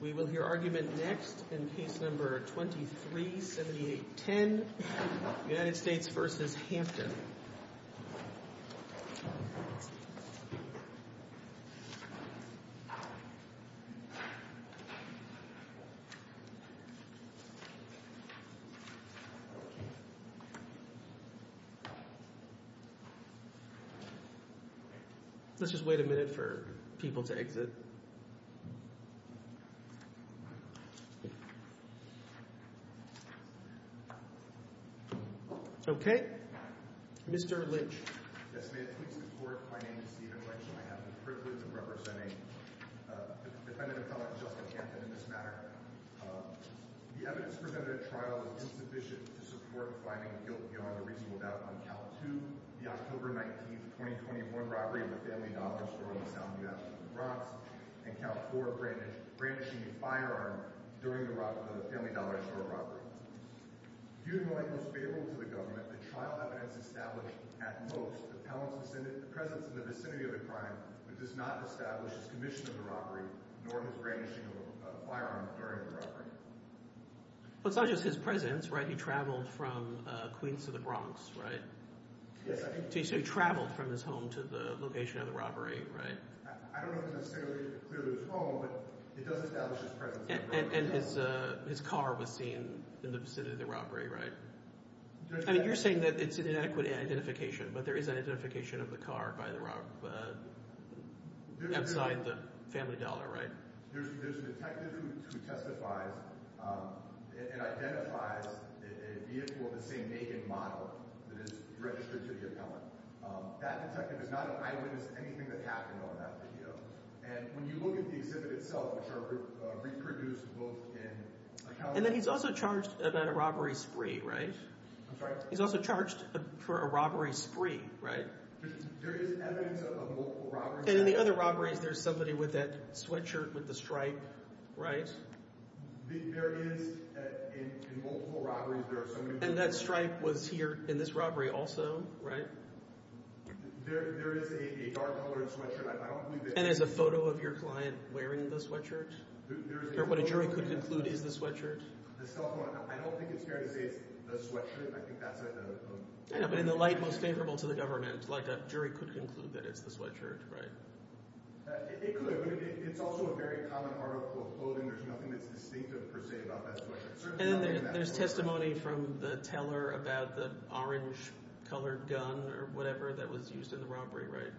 We will hear argument next in Case No. 237810 United States v. Hampton Okay. Mr. Lynch. Yes, may it please the Court, my name is Stephen Lynch and I have the privilege of representing the Defendant Appellant Justin Hampton in this matter. The evidence presented at trial is insufficient to support finding guilt beyond a reasonable doubt on Cal 2, the October 19, 2021 robbery of a family dollar store in the South New African Bronx, and Cal 4 brandishing a firearm during the family dollar store robbery. Due in no way most favorable to the Government, the trial evidence establishes at most the Appellant's presence in the vicinity of the crime, but does not establish his commission of the robbery, nor his brandishing of a firearm during the robbery. Well, it's not just his presence, right? He traveled from Queens to the Bronx, right? Yes, I think so. So he traveled from his home to the location of the robbery, right? I don't know necessarily clearly his home, but it does establish his presence. And his car was seen in the vicinity of the robbery, right? I mean, you're saying that it's an inadequate identification, but there is an identification of the car by the robber outside the family dollar, right? There's a detective who testifies and identifies a vehicle of the same make and model that is registered to the Appellant. That detective is not an eyewitness to anything that happened on that video. And when you look at the exhibit itself, which are reproduced both in account— And then he's also charged about a robbery spree, right? I'm sorry? He's also charged for a robbery spree, right? There is evidence of multiple robberies. And in the other robberies, there's somebody with that sweatshirt with the stripe, right? There is. In multiple robberies, there are so many people— And that stripe was here in this robbery also, right? There is a dark-colored sweatshirt. I don't believe that— And there's a photo of your client wearing the sweatshirt, or what a jury could conclude is the sweatshirt. I don't think it's fair to say it's the sweatshirt. I think that's a— Yeah, but in the light most favorable to the government, like a jury could conclude that it's the sweatshirt, right? It could, but it's also a very common article of clothing. There's nothing that's distinctive per se about that sweatshirt. And then there's testimony from the teller about the orange-colored gun or whatever that was used in the robbery, right?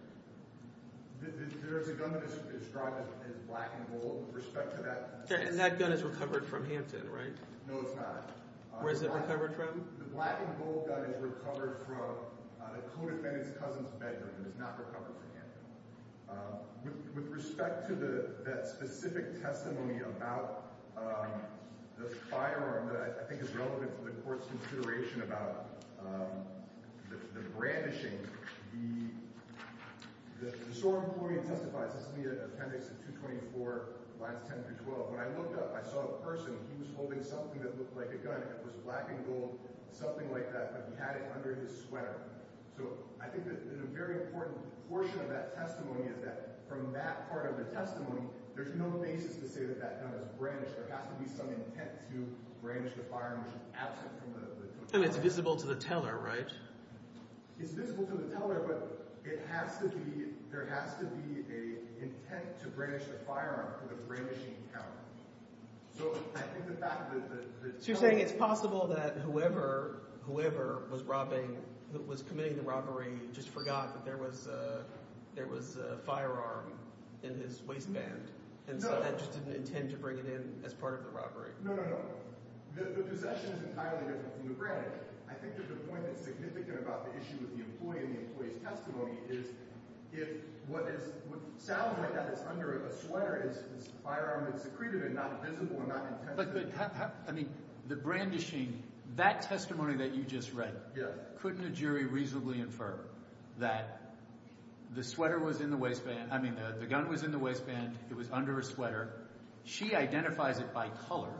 There's a gun that is described as black and gold with respect to that testimony. And that gun is recovered from Hampton, right? No, it's not. Where is it recovered from? The black and gold gun is recovered from the co-defendant's cousin's bedroom. It's not recovered from Hampton. With respect to that specific testimony about the firearm that I think is relevant to the court's consideration about the brandishing, the sore employee testifies—this is the appendix of 224, lines 10 through 12. When I looked up, I saw a person. He was holding something that looked like a gun. It was black and gold, something like that, but he had it under his sweater. So I think that a very important portion of that testimony is that from that part of the testimony, there's no basis to say that that gun was brandished. There has to be some intent to brandish the firearm, which is absent from the testimony. And it's visible to the teller, right? It's visible to the teller, but it has to be—there has to be an intent to brandish the firearm for the brandishing count. So I think the fact that the teller— It's possible that whoever was robbing—who was committing the robbery just forgot that there was a firearm in his waistband. And so they just didn't intend to bring it in as part of the robbery. No, no, no. The possession is entirely different from the branding. I think that the point that's significant about the issue with the employee and the employee's testimony is if what sounds like that is under a sweater is a firearm that's secreted and not visible and not intentionally— But how—I mean, the brandishing, that testimony that you just read, couldn't a jury reasonably infer that the sweater was in the waistband? I mean, the gun was in the waistband. It was under a sweater. She identifies it by color,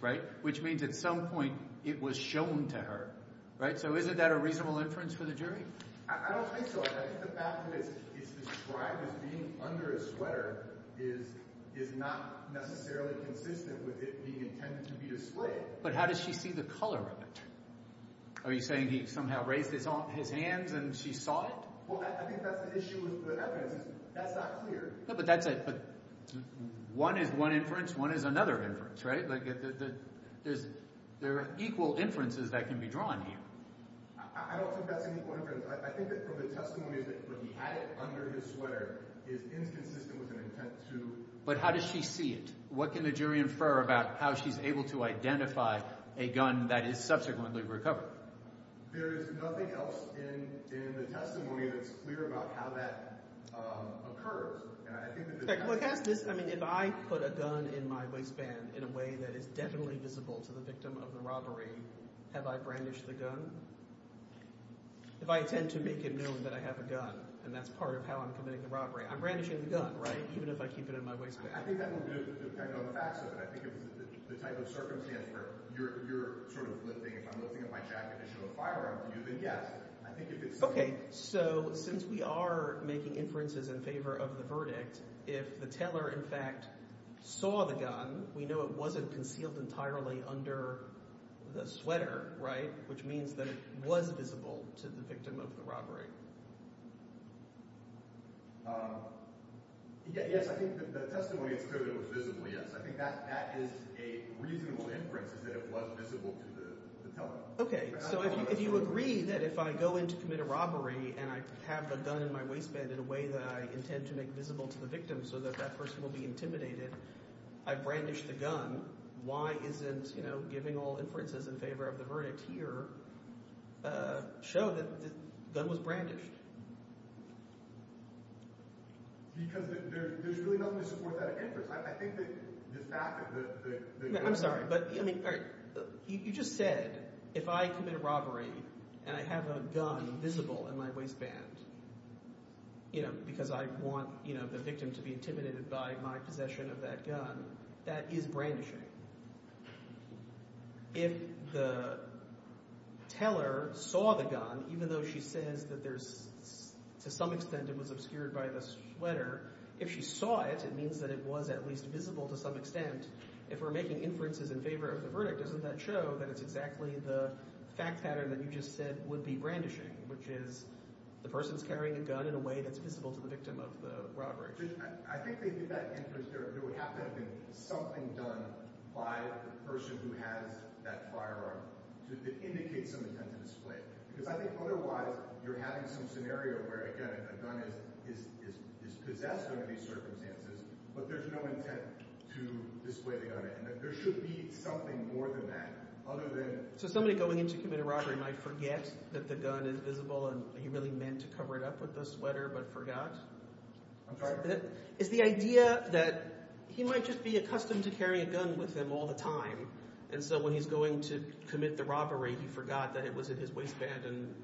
right, which means at some point it was shown to her, right? So isn't that a reasonable inference for the jury? I don't think so. I think the fact that it's described as being under a sweater is not necessarily consistent with it being intended to be displayed. But how does she see the color of it? Are you saying he somehow raised his hands and she saw it? Well, I think that's the issue with the evidence. That's not clear. But that's a—one is one inference. One is another inference, right? There are equal inferences that can be drawn here. I don't think that's any point of inference. I think that from the testimonies that he had it under his sweater is inconsistent with an intent to— But how does she see it? What can the jury infer about how she's able to identify a gun that is subsequently recovered? There is nothing else in the testimony that's clear about how that occurs. If I put a gun in my waistband in a way that is definitely visible to the victim of the robbery, have I brandished the gun? If I intend to make it known that I have a gun and that's part of how I'm committing the robbery, I'm brandishing the gun, right? Even if I keep it in my waistband. I think that will depend on the facts of it. I think if it's the type of circumstance where you're sort of lifting—if I'm lifting up my jacket to show a firearm to you, then yes. Okay, so since we are making inferences in favor of the verdict, if the teller, in fact, saw the gun, we know it wasn't concealed entirely under the sweater, right? Which means that it was visible to the victim of the robbery. Yes, I think the testimony is clear that it was visible, yes. I think that is a reasonable inference is that it was visible to the teller. Okay, so if you agree that if I go in to commit a robbery and I have a gun in my waistband in a way that I intend to make visible to the victim so that that person will be intimidated, I brandish the gun. Why isn't giving all inferences in favor of the verdict here show that the gun was brandished? Because there's really nothing to support that inference. I'm sorry, but you just said if I commit a robbery and I have a gun visible in my waistband because I want the victim to be intimidated by my possession of that gun, that is brandishing. If the teller saw the gun, even though she says that to some extent it was obscured by the sweater, if she saw it, it means that it was at least visible to some extent. If we're making inferences in favor of the verdict, doesn't that show that it's exactly the fact pattern that you just said would be brandishing, which is the person's carrying a gun in a way that's visible to the victim of the robbery? I think if they did that inference, there would have to have been something done by the person who has that firearm to indicate some intent to display. Because I think otherwise you're having some scenario where, again, a gun is possessed under these circumstances, but there's no intent to display the gun. There should be something more than that other than— So somebody going in to commit a robbery might forget that the gun is visible and he really meant to cover it up with the sweater but forgot? I'm sorry? It's the idea that he might just be accustomed to carrying a gun with him all the time. And so when he's going to commit the robbery, he forgot that it was in his waistband and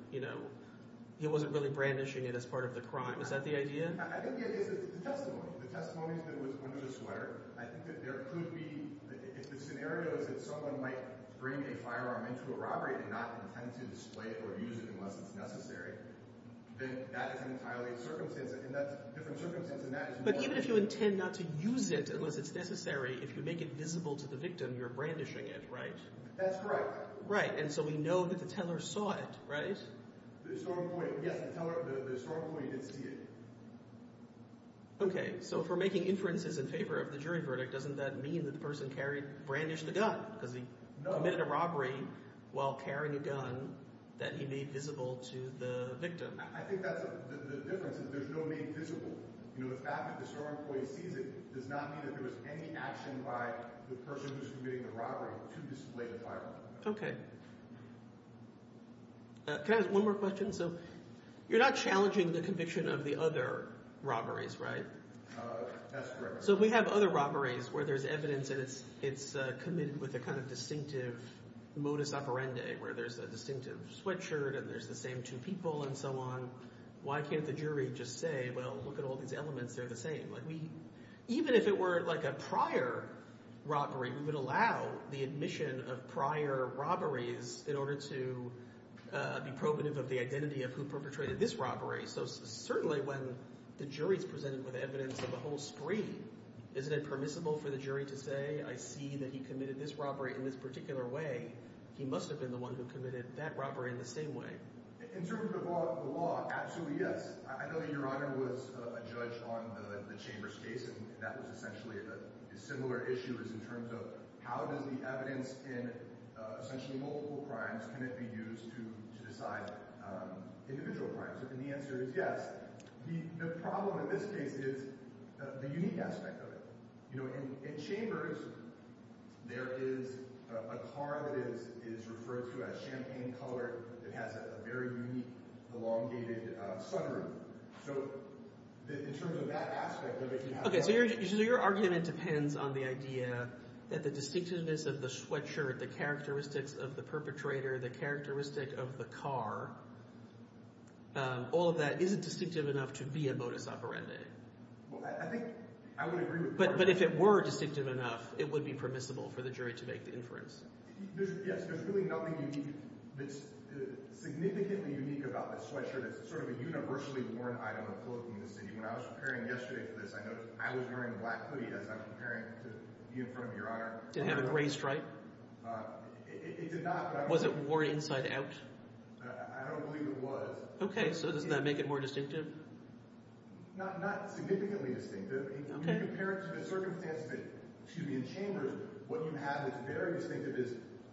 he wasn't really brandishing it as part of the crime. Is that the idea? I think the idea is it's a testimony. The testimony is that it was under the sweater. I think that there could be—if the scenario is that someone might bring a firearm into a robbery and not intend to display it or use it unless it's necessary, then that is entirely a circumstance. And that's a different circumstance. But even if you intend not to use it unless it's necessary, if you make it visible to the victim, you're brandishing it, right? That's correct. Right. And so we know that the teller saw it, right? The historical point, yes. The historical point, he did see it. Okay. So if we're making inferences in favor of the jury verdict, doesn't that mean that the person carried—brandished the gun because he committed a robbery while carrying a gun that he made visible to the victim? I think that's—the difference is there's no name visible. The fact that the store employee sees it does not mean that there was any action by the person who's committing the robbery to display the firearm. Okay. Can I ask one more question? So you're not challenging the conviction of the other robberies, right? That's correct. So we have other robberies where there's evidence that it's committed with a kind of distinctive modus operandi where there's a distinctive sweatshirt and there's the same two people and so on. Why can't the jury just say, well, look at all these elements. They're the same. Like we—even if it were like a prior robbery, we would allow the admission of prior robberies in order to be probative of the identity of who perpetrated this robbery. So certainly when the jury is presented with evidence of a whole screen, isn't it permissible for the jury to say, I see that he committed this robbery in this particular way. He must have been the one who committed that robbery in the same way. In terms of the law, absolutely yes. I know that Your Honor was a judge on the Chambers case, and that was essentially a similar issue as in terms of how does the evidence in essentially multiple crimes, can it be used to decide individual crimes? And the answer is yes. The problem in this case is the unique aspect of it. In Chambers, there is a car that is referred to as champagne colored. It has a very unique elongated sunroof. So in terms of that aspect of it— Okay, so your argument depends on the idea that the distinctiveness of the sweatshirt, the characteristics of the perpetrator, the characteristic of the car, all of that isn't distinctive enough to be a modus operandi. Well, I think I would agree with that. But if it were distinctive enough, it would be permissible for the jury to make the inference. Yes, there's really nothing unique that's significantly unique about this sweatshirt. It's sort of a universally worn item of clothing in the city. When I was preparing yesterday for this, I noticed I was wearing a black hoodie as I'm preparing to be in front of Your Honor. Did it have a gray stripe? It did not, but I was— Was it worn inside out? I don't believe it was. Okay, so does that make it more distinctive? Not significantly distinctive. When you compare it to the circumstances that—excuse me—in Chambers, what you have that's very distinctive is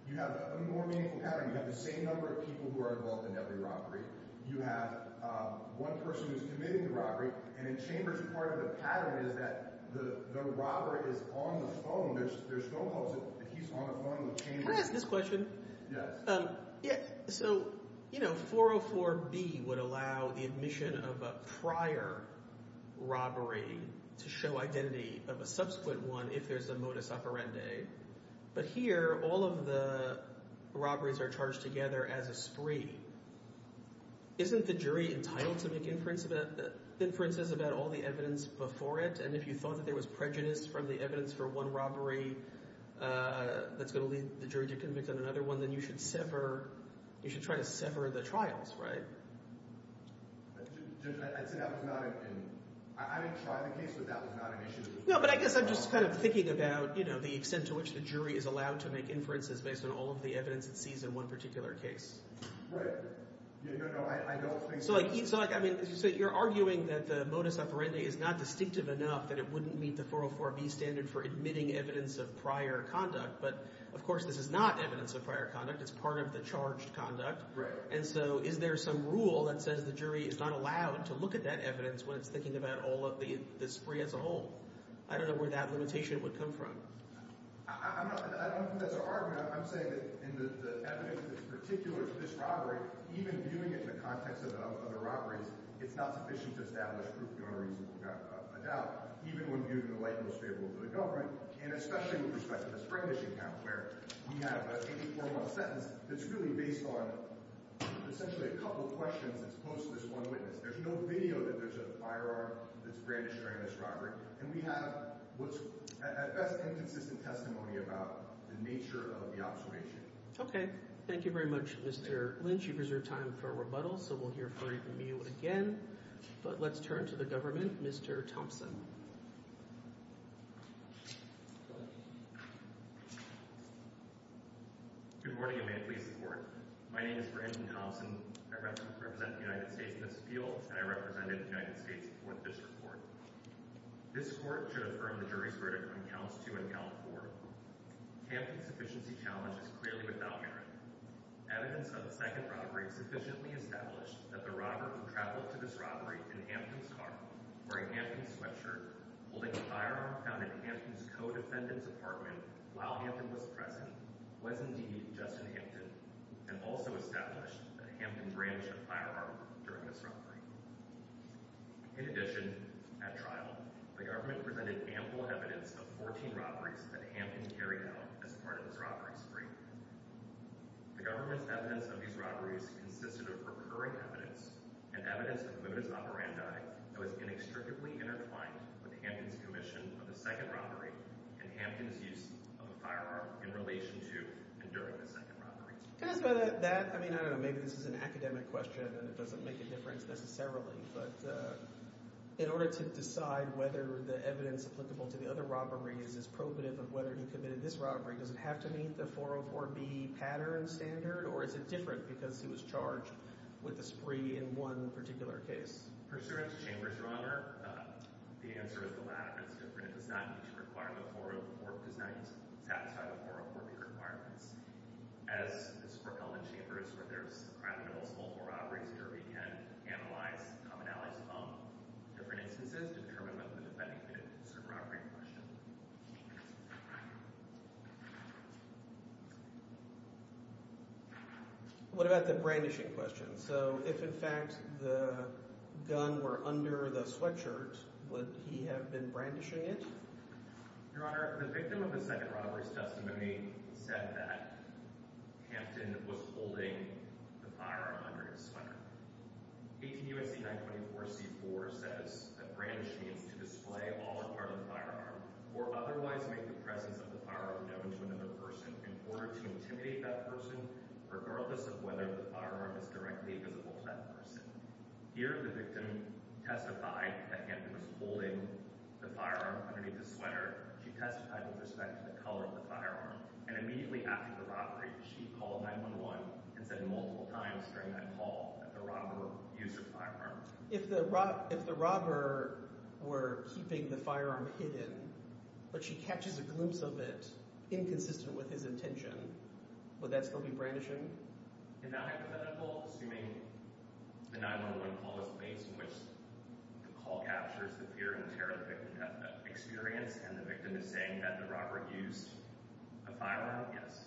you have a more meaningful pattern. You have the same number of people who are involved in every robbery. You have one person who's committing the robbery, and in Chambers, part of the pattern is that the robber is on the phone. There's no hope that he's on the phone with Chambers. Can I ask this question? Yes. So, you know, 404B would allow the admission of a prior robbery to show identity of a subsequent one if there's a modus operandi. But here, all of the robberies are charged together as a spree. Isn't the jury entitled to make inferences about all the evidence before it? And if you thought that there was prejudice from the evidence for one robbery that's going to lead the jury to convict on another one, then you should sever—you should try to sever the trials, right? Judge, I'd say that was not an—I didn't try the case, but that was not an issue. No, but I guess I'm just kind of thinking about, you know, the extent to which the jury is allowed to make inferences based on all of the evidence it sees in one particular case. Right. No, no, I don't think so. So, like, I mean, you're arguing that the modus operandi is not distinctive enough that it wouldn't meet the 404B standard for admitting evidence of prior conduct. But, of course, this is not evidence of prior conduct. It's part of the charged conduct. Right. And so is there some rule that says the jury is not allowed to look at that evidence when it's thinking about all of the spree as a whole? I don't know where that limitation would come from. I'm not—I don't think that's an argument. I'm saying that in the evidence that's particular to this robbery, even viewing it in the context of other robberies, it's not sufficient to establish proof beyond a reasonable doubt, even when viewed in the light most favorable to the government, and especially with respect to this Brandish account, where we have an 84-month sentence that's really based on essentially a couple questions that's posed to this one witness. There's no video that there's a firearm that's brandished during this robbery. And we have what's at best inconsistent testimony about the nature of the observation. Okay. Thank you very much, Mr. Lynch. You've reserved time for a rebuttal, so we'll hear from you again. But let's turn to the government. Mr. Thompson. Good morning, and may it please the Court. My name is Brandon Thompson. I represent the United States in this appeal, and I represented the United States before this report. This Court should affirm the jury's verdict on Counts 2 and Count 4. Hampton's efficiency challenge is clearly without merit. Evidence of the second robbery sufficiently established that the robber who traveled to this robbery in Hampton's car, wearing Hampton's sweatshirt, holding a firearm found in Hampton's co-defendant's apartment while Hampton was present, was indeed Justin Hampton, and also established that Hampton brandished a firearm during this robbery. In addition, at trial, the government presented ample evidence of 14 robberies that Hampton carried out as part of this robbery spree. The government's evidence of these robberies consisted of recurring evidence and evidence of modus operandi that was inextricably intertwined with Hampton's commission of the second robbery and Hampton's use of a firearm in relation to and during the second robbery. Can I ask about that? I mean, I don't know. Maybe this is an academic question and it doesn't make a difference necessarily, but in order to decide whether the evidence applicable to the other robberies is probative of whether he committed this robbery, does it have to meet the 404B pattern standard, or is it different because he was charged with a spree in one particular case? Pursuant to Chambers, Your Honor, the answer is the latter. It's different. It does not meet the requirement for or does not satisfy the 404B requirements. As for Elman Chambers, where there's a probability of multiple robberies, the jury can analyze commonalities among different instances to determine whether the defendant committed a certain robbery in question. What about the brandishing question? So if, in fact, the gun were under the sweatshirt, would he have been brandishing it? Your Honor, the victim of the second robbery's testimony said that Hampton was holding the firearm under his sweater. 18 U.S.C. 924 C-4 says that brandishing is to display all or part of the firearm or otherwise make the presence of the firearm known to another person in order to intimidate that person, regardless of whether the firearm is directly visible to that person. Here, the victim testified that Hampton was holding the firearm underneath his sweater. She testified with respect to the color of the firearm, and immediately after the robbery, she called 911 and said multiple times during that call that the robber used her firearm. If the robber were keeping the firearm hidden but she catches a glimpse of it inconsistent with his intention, would that still be brandishing? In that hypothetical, assuming the 911 call is based in which the call captures the fear and terror that the victim experienced and the victim is saying that the robber used a firearm, yes.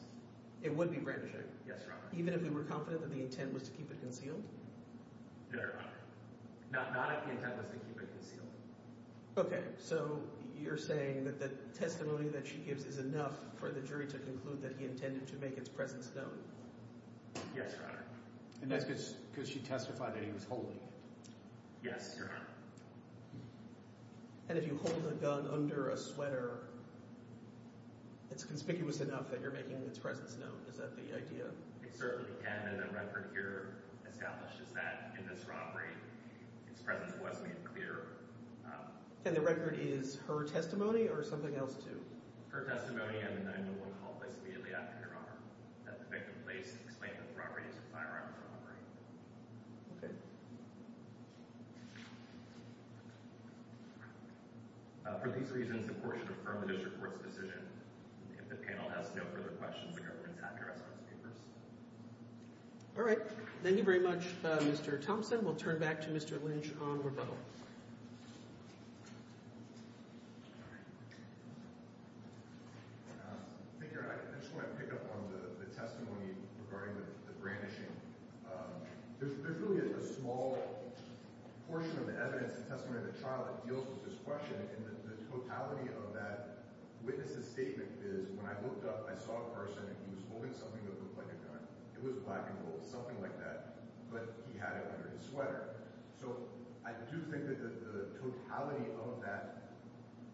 It would be brandishing? Yes, Your Honor. Even if they were confident that the intent was to keep it concealed? No, Your Honor. Not if the intent was to keep it concealed. Okay, so you're saying that the testimony that she gives is enough for the jury to conclude that he intended to make its presence known? Yes, Your Honor. And that's because she testified that he was holding it? Yes, Your Honor. And if you hold a gun under a sweater, it's conspicuous enough that you're making its presence known. Is that the idea? It certainly can, and the record here establishes that in this robbery, its presence was made clear. And the record is her testimony or something else, too? Her testimony and the 911 call placed immediately after, Your Honor. That the victim placed the claim that the robber used her firearm as a robbery. Okay. For these reasons, the court should affirm the district court's decision. If the panel has no further questions, the government is happy to restore the papers. All right. Thank you very much, Mr. Thompson. We'll turn back to Mr. Lynch on rebuttal. Thank you, Your Honor. I just want to pick up on the testimony regarding the brandishing. There's really a small portion of the evidence, the testimony of the child that deals with this question. And the totality of that witness's statement is, when I looked up, I saw a person, and he was holding something that looked like a gun. It was black and gold, something like that. But he had it under his sweater. So I do think that the totality of that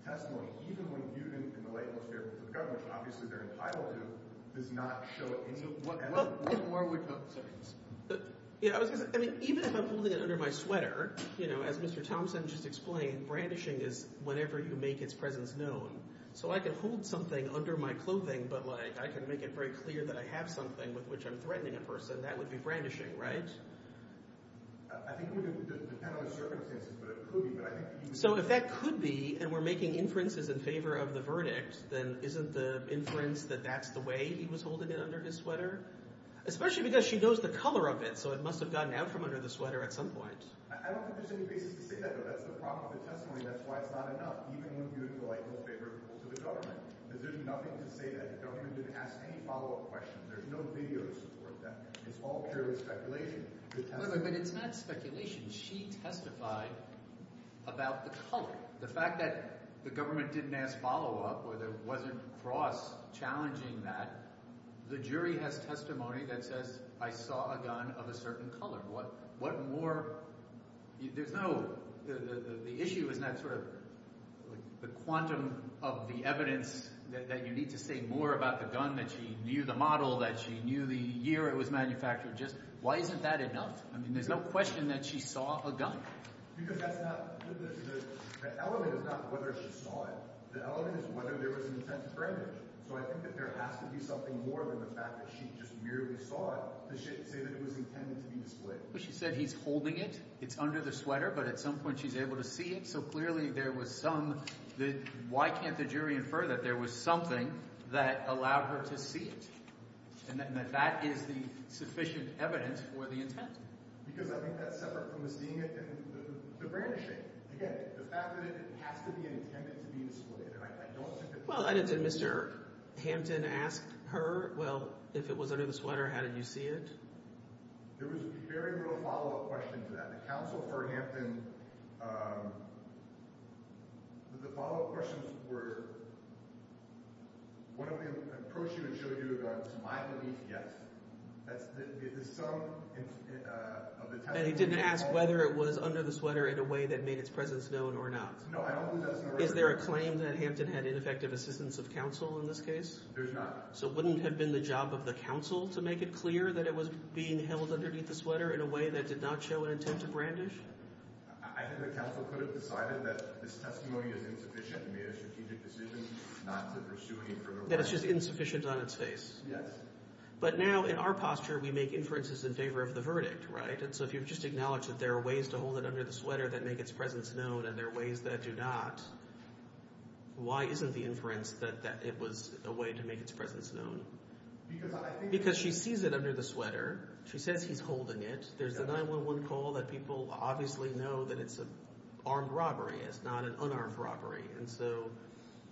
testimony, even when viewed in the light and most favorable for the government, which obviously they're entitled to, does not show any evidence. What more would you say? I mean, even if I'm holding it under my sweater, you know, as Mr. Thompson just explained, brandishing is whenever you make its presence known. So I can hold something under my clothing, but, like, I can make it very clear that I have something with which I'm threatening a person. That would be brandishing, right? I think it would depend on the circumstances, but it could be. So if that could be and we're making inferences in favor of the verdict, then isn't the inference that that's the way he was holding it under his sweater? Especially because she knows the color of it, so it must have gotten out from under the sweater at some point. I don't think there's any basis to say that, though. That's the problem with the testimony. That's why it's not enough, even when viewed in the light and most favorable to the government, because there's nothing to say that the government didn't ask any follow-up questions. There's no video to support that. It's all purely speculation. But it's not speculation. She testified about the color, the fact that the government didn't ask follow-up or there wasn't cross-challenging that. The jury has testimony that says I saw a gun of a certain color. What more – there's no – the issue is not sort of the quantum of the evidence that you need to say more about the gun, that she knew the model, that she knew the year it was manufactured. Just why isn't that enough? I mean there's no question that she saw a gun. Because that's not – the element is not whether she saw it. The element is whether there was an intent to frame it. So I think that there has to be something more than the fact that she just merely saw it to say that it was intended to be displayed. She said he's holding it. It's under the sweater, but at some point she's able to see it. So clearly there was some – why can't the jury infer that there was something that allowed her to see it and that that is the sufficient evidence for the intent? Because I think that's separate from the seeing it and the brandishing. Again, the fact that it has to be intended to be displayed. And I don't think that – Well, I didn't say Mr. Hampton asked her, well, if it was under the sweater, how did you see it? There was very little follow-up question to that. The counsel for Hampton – the follow-up questions were, why don't we approach you and show you a gun? To my belief, yes. There's some of the – And he didn't ask whether it was under the sweater in a way that made its presence known or not. No, I don't think that's – Is there a claim that Hampton had ineffective assistance of counsel in this case? There's not. So it wouldn't have been the job of the counsel to make it clear that it was being held underneath the sweater in a way that did not show an intent to brandish? I think the counsel could have decided that this testimony is insufficient and made a strategic decision not to pursue any further – That it's just insufficient on its face. Yes. But now in our posture, we make inferences in favor of the verdict, right? And so if you've just acknowledged that there are ways to hold it under the sweater that make its presence known and there are ways that do not, why isn't the inference that it was a way to make its presence known? Because I think – Because she sees it under the sweater. She says he's holding it. There's a 911 call that people obviously know that it's an armed robbery. It's not an unarmed robbery. And so –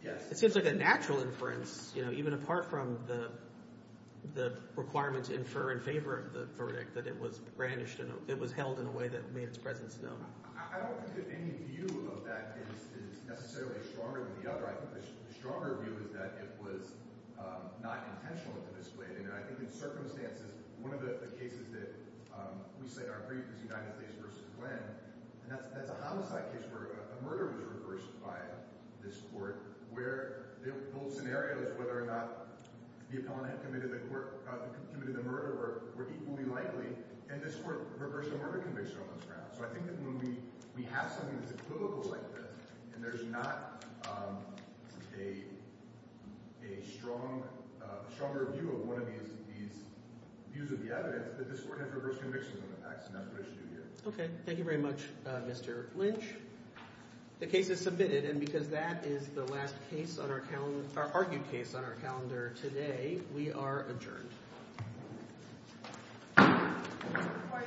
Yes. It seems like a natural inference even apart from the requirement to infer in favor of the verdict that it was brandished and it was held in a way that made its presence known. I don't think that any view of that case is necessarily stronger than the other. I think the stronger view is that it was not intentional to display it. And I think in circumstances, one of the cases that we say are brief is United States v. Glenn. And that's a homicide case where a murder was reversed by this court where the whole scenario is whether or not the appellant had committed the murder were equally likely. And this court reversed a murder conviction on this ground. So I think that when we have something that's equivocal like this and there's not a strong – a stronger view of one of these views of the evidence, that this court has reversed convictions on the facts. And that's what it should do here. Okay. Thank you very much, Mr. Lynch. The case is submitted, and because that is the last case on our – argued case on our calendar today, we are adjourned.